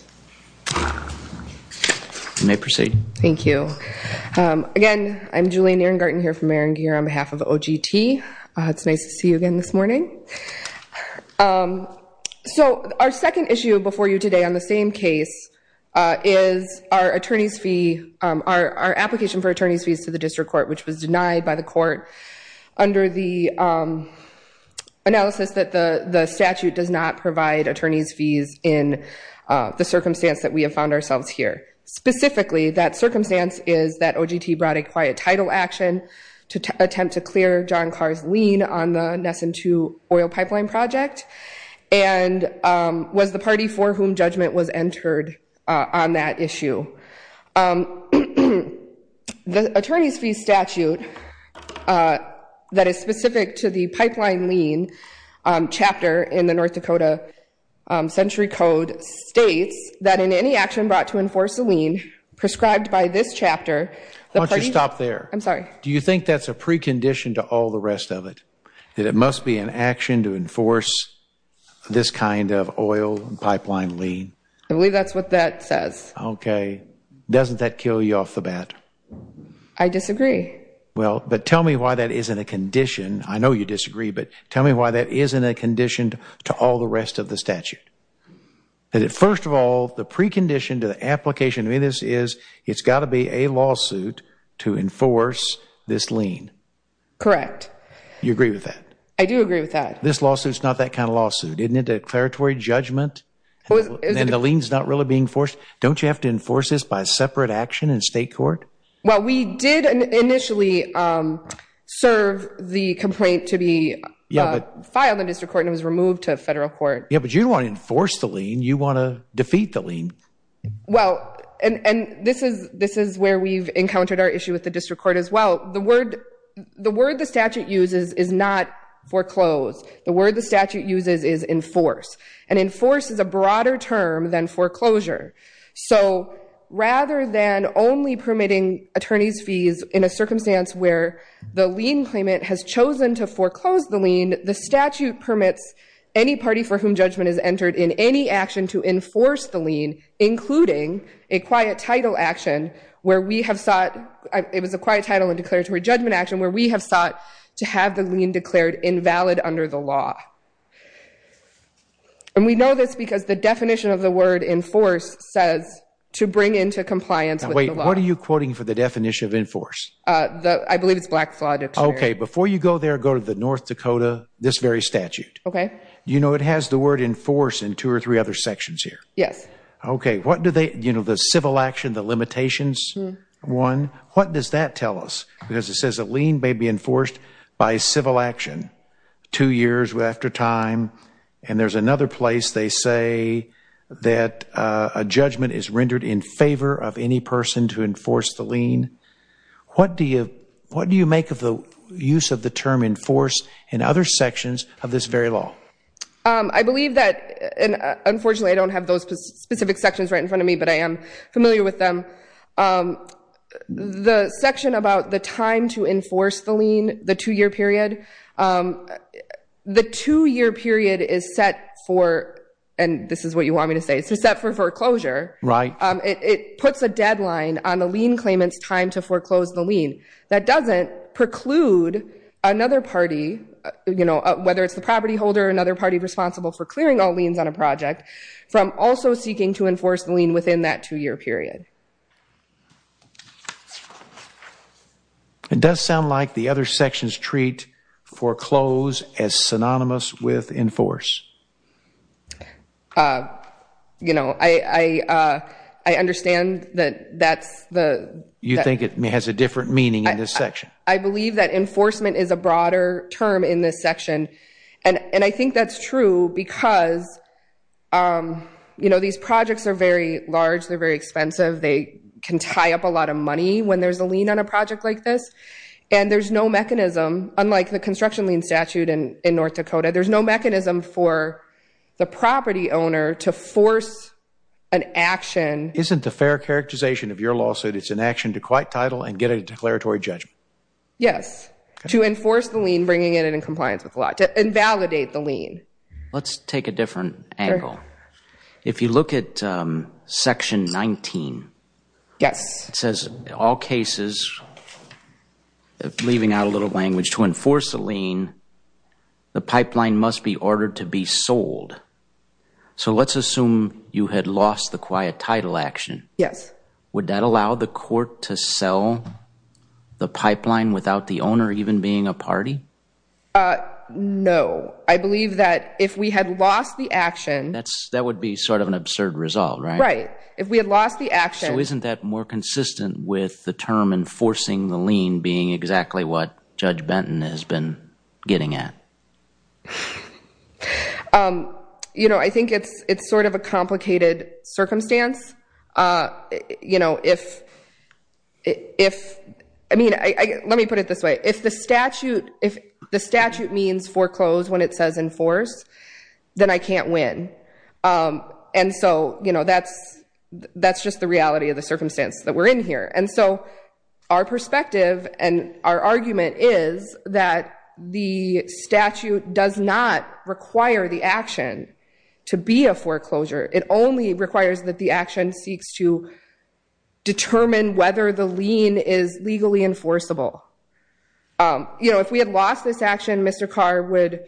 You may proceed. Thank you. Again, I'm Julianne Ehrengarten here from Maringear on behalf of OGT. It's nice to see you again this morning. So our second issue before you today on the same case is our attorneys' fee, our application for attorneys' fees to the district court, which was denied by the court under the analysis that the statute does not provide attorneys' fees in the circumstance that we have found ourselves here. Specifically, that circumstance is that OGT brought a quiet title action to attempt to clear John Karr's lien on the Nessun II oil pipeline project and was the party for whom judgment was entered on that issue. The attorneys' fee statute that is specific to the pipeline lien chapter in the North Dakota Century Code states that in any action brought to enforce a lien prescribed by this chapter, the party… Why don't you stop there? I'm sorry. Do you think that's a precondition to all the rest of it, that it must be an action to enforce this kind of oil pipeline lien? I believe that's what that says. Okay. Doesn't that kill you off the bat? I disagree. Well, but tell me why that isn't a condition. I know you disagree, but tell me why that isn't a condition to all the rest of the statute. First of all, the precondition to the application of this is it's got to be a lawsuit to enforce this lien. Correct. You agree with that? I do agree with that. This lawsuit is not that kind of lawsuit. Isn't it a declaratory judgment? And the lien's not really being enforced? Don't you have to enforce this by separate action in state court? Well, we did initially serve the complaint to be filed in district court and it was removed to federal court. Yeah, but you don't want to enforce the lien. You want to defeat the lien. Well, and this is where we've encountered our issue with the district court as well. The word the statute uses is not foreclosed. The word the statute uses is enforce. And enforce is a broader term than foreclosure. So rather than only permitting attorney's fees in a circumstance where the lien claimant has chosen to foreclose the lien, the statute permits any party for whom judgment is entered in any action to enforce the lien, including a quiet title action where we have sought to have the lien declared invalid under the law. And we know this because the definition of the word enforce says to bring into compliance with the law. Wait, what are you quoting for the definition of enforce? I believe it's Black Flaw Dictator. Okay, before you go there, go to the North Dakota, this very statute. Okay. You know it has the word enforce in two or three other sections here. Yes. Okay, what do they, you know, the civil action, the limitations one, what does that tell us? Because it says a lien may be enforced by civil action two years after time. And there's another place they say that a judgment is rendered in favor of any person to enforce the lien. What do you make of the use of the term enforce in other sections of this very law? I believe that, and unfortunately I don't have those specific sections right in front of me, but I am familiar with them. The section about the time to enforce the lien, the two-year period, the two-year period is set for, and this is what you want me to say, is set for foreclosure. Right. It puts a deadline on the lien claimant's time to foreclose the lien. That doesn't preclude another party, you know, whether it's the property holder or another party responsible for clearing all liens on a project, from also seeking to enforce the lien within that two-year period. It does sound like the other sections treat foreclose as synonymous with enforce. You know, I understand that that's the – You think it has a different meaning in this section. I believe that enforcement is a broader term in this section, and I think that's true because, you know, these projects are very large. They're very expensive. They can tie up a lot of money when there's a lien on a project like this, and there's no mechanism, unlike the construction lien statute in North Dakota, there's no mechanism for the property owner to force an action. Isn't the fair characterization of your lawsuit, it's an action to quiet title and get a declaratory judgment? Yes, to enforce the lien, bringing it in compliance with the law, to invalidate the lien. Let's take a different angle. If you look at Section 19, it says, all cases, leaving out a little language, to enforce a lien, the pipeline must be ordered to be sold. So let's assume you had lost the quiet title action. Yes. Would that allow the court to sell the pipeline without the owner even being a party? No. I believe that if we had lost the action. That would be sort of an absurd result, right? Right. If we had lost the action. So isn't that more consistent with the term enforcing the lien being exactly what Judge Benton has been getting at? You know, I think it's sort of a complicated circumstance. You know, if, I mean, let me put it this way. If the statute means foreclose when it says enforce, then I can't win. And so, you know, that's just the reality of the circumstance that we're in here. And so our perspective and our argument is that the statute does not require the action to be a foreclosure. It only requires that the action seeks to determine whether the lien is legally enforceable. You know, if we had lost this action, Mr. Carr would,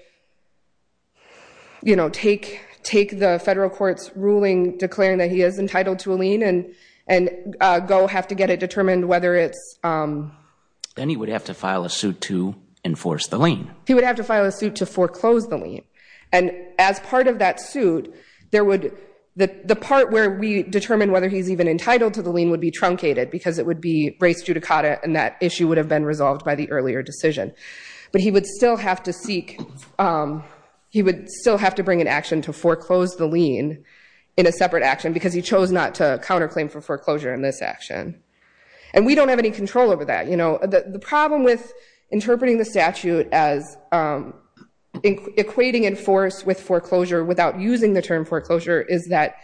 you know, take the federal court's ruling declaring that he is entitled to a lien and go have to get it determined whether it's. Then he would have to file a suit to enforce the lien. He would have to file a suit to foreclose the lien. And as part of that suit, the part where we determine whether he's even entitled to the lien would be truncated because it would be race judicata and that issue would have been resolved by the earlier decision. But he would still have to seek, he would still have to bring an action to foreclose the lien in a separate action because he chose not to counterclaim for foreclosure in this action. And we don't have any control over that. You know, the problem with interpreting the statute as equating enforce with foreclosure without using the term foreclosure is that,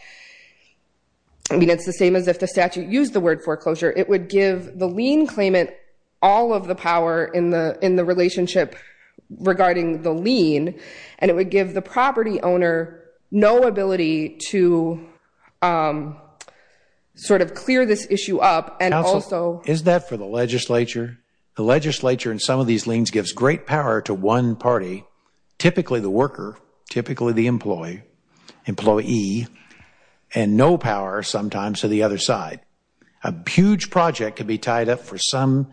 I mean, it's the same as if the statute used the word foreclosure. It would give the lien claimant all of the power in the relationship regarding the lien and it would give the property owner no ability to sort of clear this issue up and also. Counsel, is that for the legislature? The legislature in some of these liens gives great power to one party, typically the worker, typically the employee, and no power sometimes to the other side. A huge project could be tied up for some,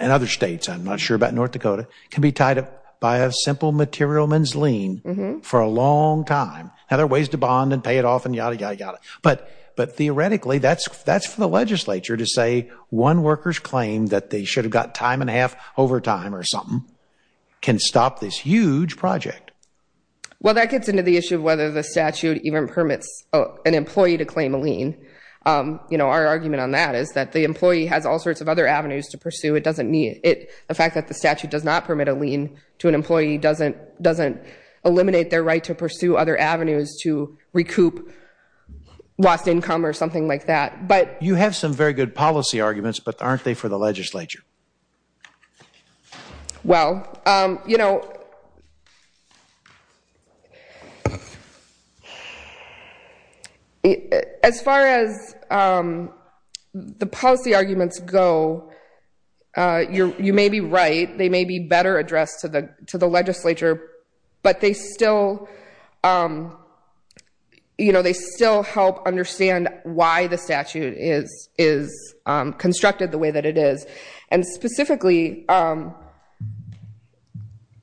in other states, I'm not sure about North Dakota, can be tied up by a simple materialman's lien for a long time. Now, there are ways to bond and pay it off and yada, yada, yada. But theoretically, that's for the legislature to say one worker's claim that they should have got time and a half overtime or something can stop this huge project. Well, that gets into the issue of whether the statute even permits an employee to claim a lien. You know, our argument on that is that the employee has all sorts of other avenues to pursue. The fact that the statute does not permit a lien to an employee doesn't eliminate their right to pursue other avenues to recoup lost income or something like that. You have some very good policy arguments, but aren't they for the legislature? Well, you know, as far as the policy arguments go, you may be right. They may be better addressed to the legislature, but they still help understand why the statute is constructed the way that it is. And specifically,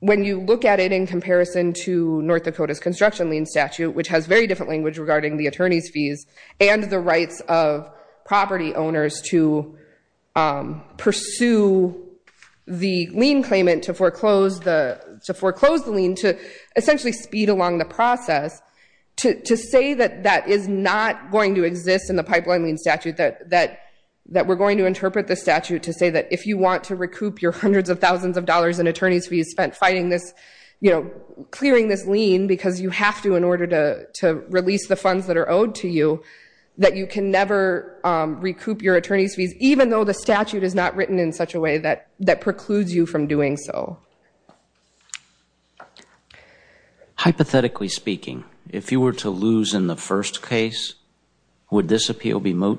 when you look at it in comparison to North Dakota's construction lien statute, which has very different language regarding the attorney's fees and the rights of property owners to pursue the lien claimant to foreclose the lien to essentially speed along the process, to say that that is not going to exist in the pipeline lien statute, that we're going to interpret the statute to say that if you want to recoup your hundreds of thousands of dollars in attorney's fees spent fighting this, you know, clearing this lien because you have to in order to release the funds that are owed to you, that you can never recoup your attorney's fees, even though the statute is not written in such a way that precludes you from doing so. Hypothetically speaking, if you were to lose in the first case, would this appeal be moot?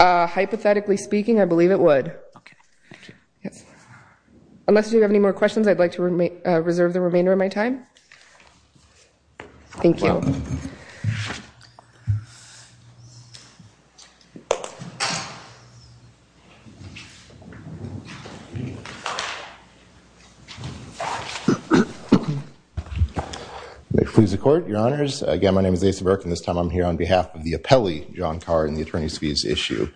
Hypothetically speaking, I believe it would. Unless you have any more questions, I'd like to reserve the remainder of my time. Thank you. May it please the court, your honors. Again, my name is Asa Burke, and this time I'm here on behalf of the appellee, John Carr, in the attorney's fees issue.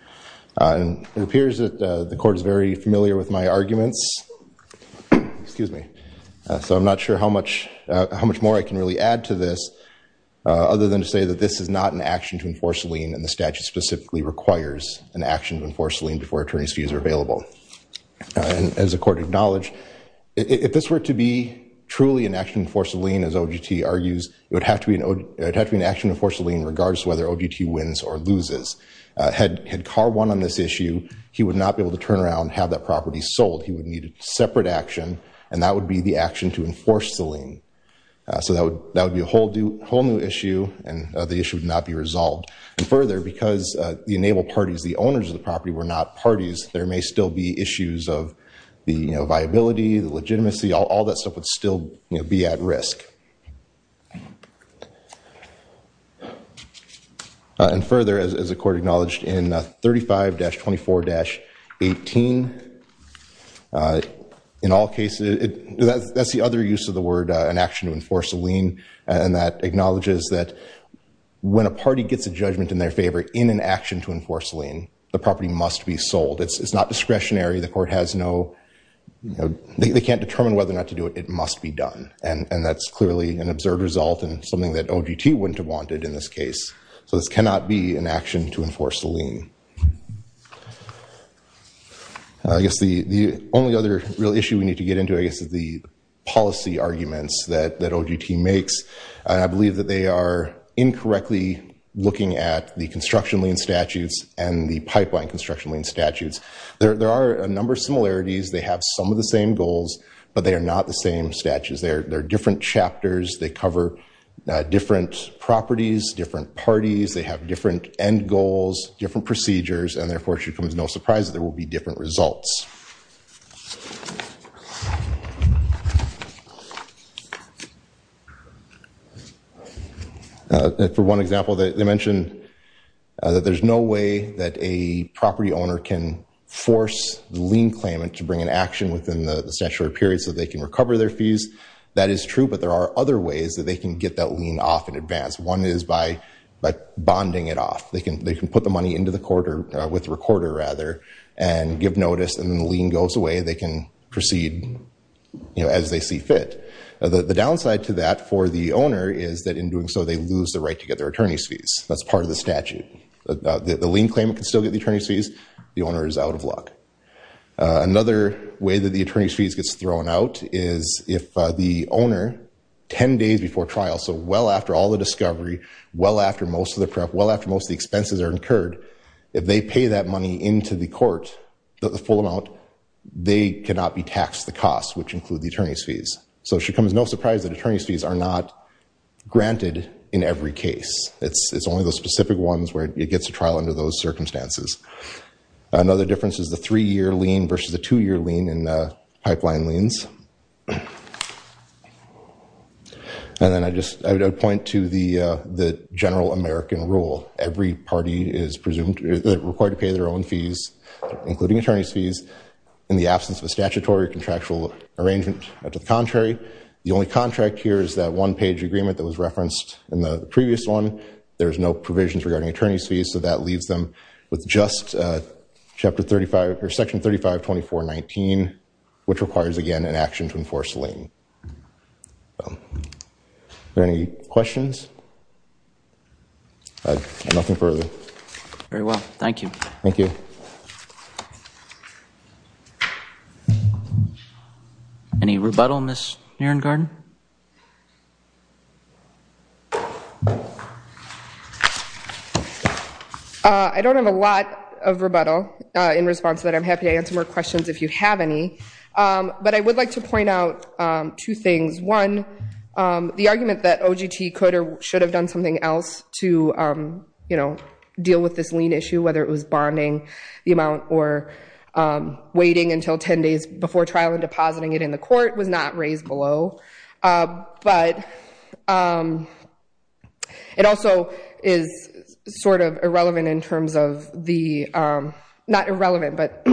It appears that the court is very familiar with my arguments. So I'm not sure how much more I can really add to this, other than to say that this is not an action to enforce a lien, and the statute specifically requires an action to enforce a lien before attorney's fees are available. As the court acknowledged, if this were to be truly an action to enforce a lien, as OGT argues, it would have to be an action to enforce a lien regardless of whether OGT wins or loses. Had Carr won on this issue, he would not be able to turn around and have that property sold. He would need a separate action, and that would be the action to enforce the lien. So that would be a whole new issue, and the issue would not be resolved. And further, because the enabled parties, the owners of the property, were not parties, there may still be issues of the viability, the legitimacy, all that stuff would still be at risk. And further, as the court acknowledged in 35-24-18, in all cases, that's the other use of the word, an action to enforce a lien, and that acknowledges that when a party gets a judgment in their favor in an action to enforce a lien, the property must be sold. It's not discretionary. The court has no... They can't determine whether or not to do it. It must be done. And that's clearly an absurd result and something that OGT wouldn't have wanted in this case. So this cannot be an action to enforce a lien. I guess the only other real issue we need to get into, I guess, is the policy arguments that OGT makes. And I believe that they are incorrectly looking at the construction lien statutes and the pipeline construction lien statutes. There are a number of similarities. They have some of the same goals, but they are not the same statutes. They're different chapters. They cover different properties, different parties. They have different end goals, different procedures, and therefore it should come as no surprise that there will be different results. For one example, they mentioned that there's no way that a property owner can force the lien claimant to bring an action within the statutory period so they can recover their fees. That is true, but there are other ways that they can get that lien off in advance. One is by bonding it off. They can put the money into the quarter with the recorder, rather, and give notice, and then the lien goes away and they can proceed as they see fit. The downside to that for the owner is that in doing so they lose the right to get their attorney's fees. That's part of the statute. The lien claimant can still get the attorney's fees. The owner is out of luck. Another way that the attorney's fees gets thrown out is if the owner, 10 days before trial, so well after all the discovery, well after most of the prep, well after most of the expenses are incurred, if they pay that money into the court, the full amount, so it should come as no surprise that attorney's fees are not granted in every case. It's only those specific ones where it gets a trial under those circumstances. Another difference is the three-year lien versus the two-year lien in pipeline liens. And then I would point to the general American rule. Every party is required to pay their own fees, including attorney's fees, in the absence of a statutory contractual arrangement. To the contrary, the only contract here is that one-page agreement that was referenced in the previous one. There's no provisions regarding attorney's fees, so that leaves them with just Section 3524.19, which requires, again, an action to enforce the lien. Are there any questions? Nothing further. Very well. Thank you. Thank you. Any rebuttal, Ms. Nierengarten? I don't have a lot of rebuttal in response to that. I'm happy to answer more questions if you have any. But I would like to point out two things. One, the argument that OGT could or should have done something else to deal with this lien issue, whether it was bonding the amount or waiting until 10 days before trial and depositing it in the court, was not raised below. But it also is sort of irrelevant in terms of the ‑‑ not irrelevant, but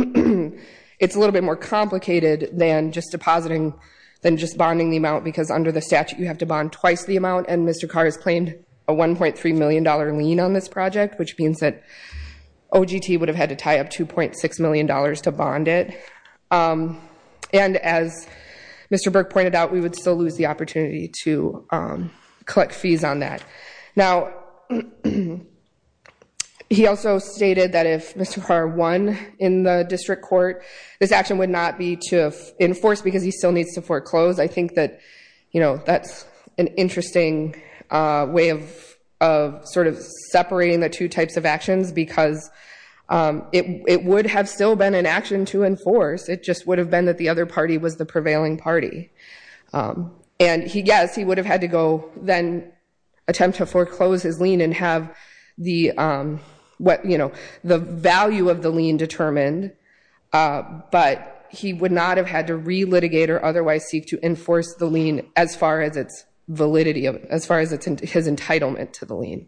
it's a little bit more complicated than just depositing than just bonding the amount, because under the statute you have to bond twice the amount. And Mr. Carr has claimed a $1.3 million lien on this project, which means that OGT would have had to tie up $2.6 million to bond it. And as Mr. Burke pointed out, we would still lose the opportunity to collect fees on that. Now, he also stated that if Mr. Carr won in the district court, this action would not be to enforce because he still needs to foreclose. I think that, you know, that's an interesting way of sort of separating the two types of actions, because it would have still been an action to enforce. It just would have been that the other party was the prevailing party. And, yes, he would have had to go then attempt to foreclose his lien and have the value of the lien determined, but he would not have had to re-litigate or otherwise seek to enforce the lien as far as its validity, as far as his entitlement to the lien.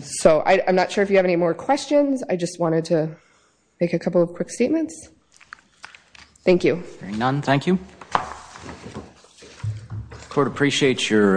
So I'm not sure if you have any more questions. I just wanted to make a couple of quick statements. Thank you. Very none. Thank you. Court appreciates your...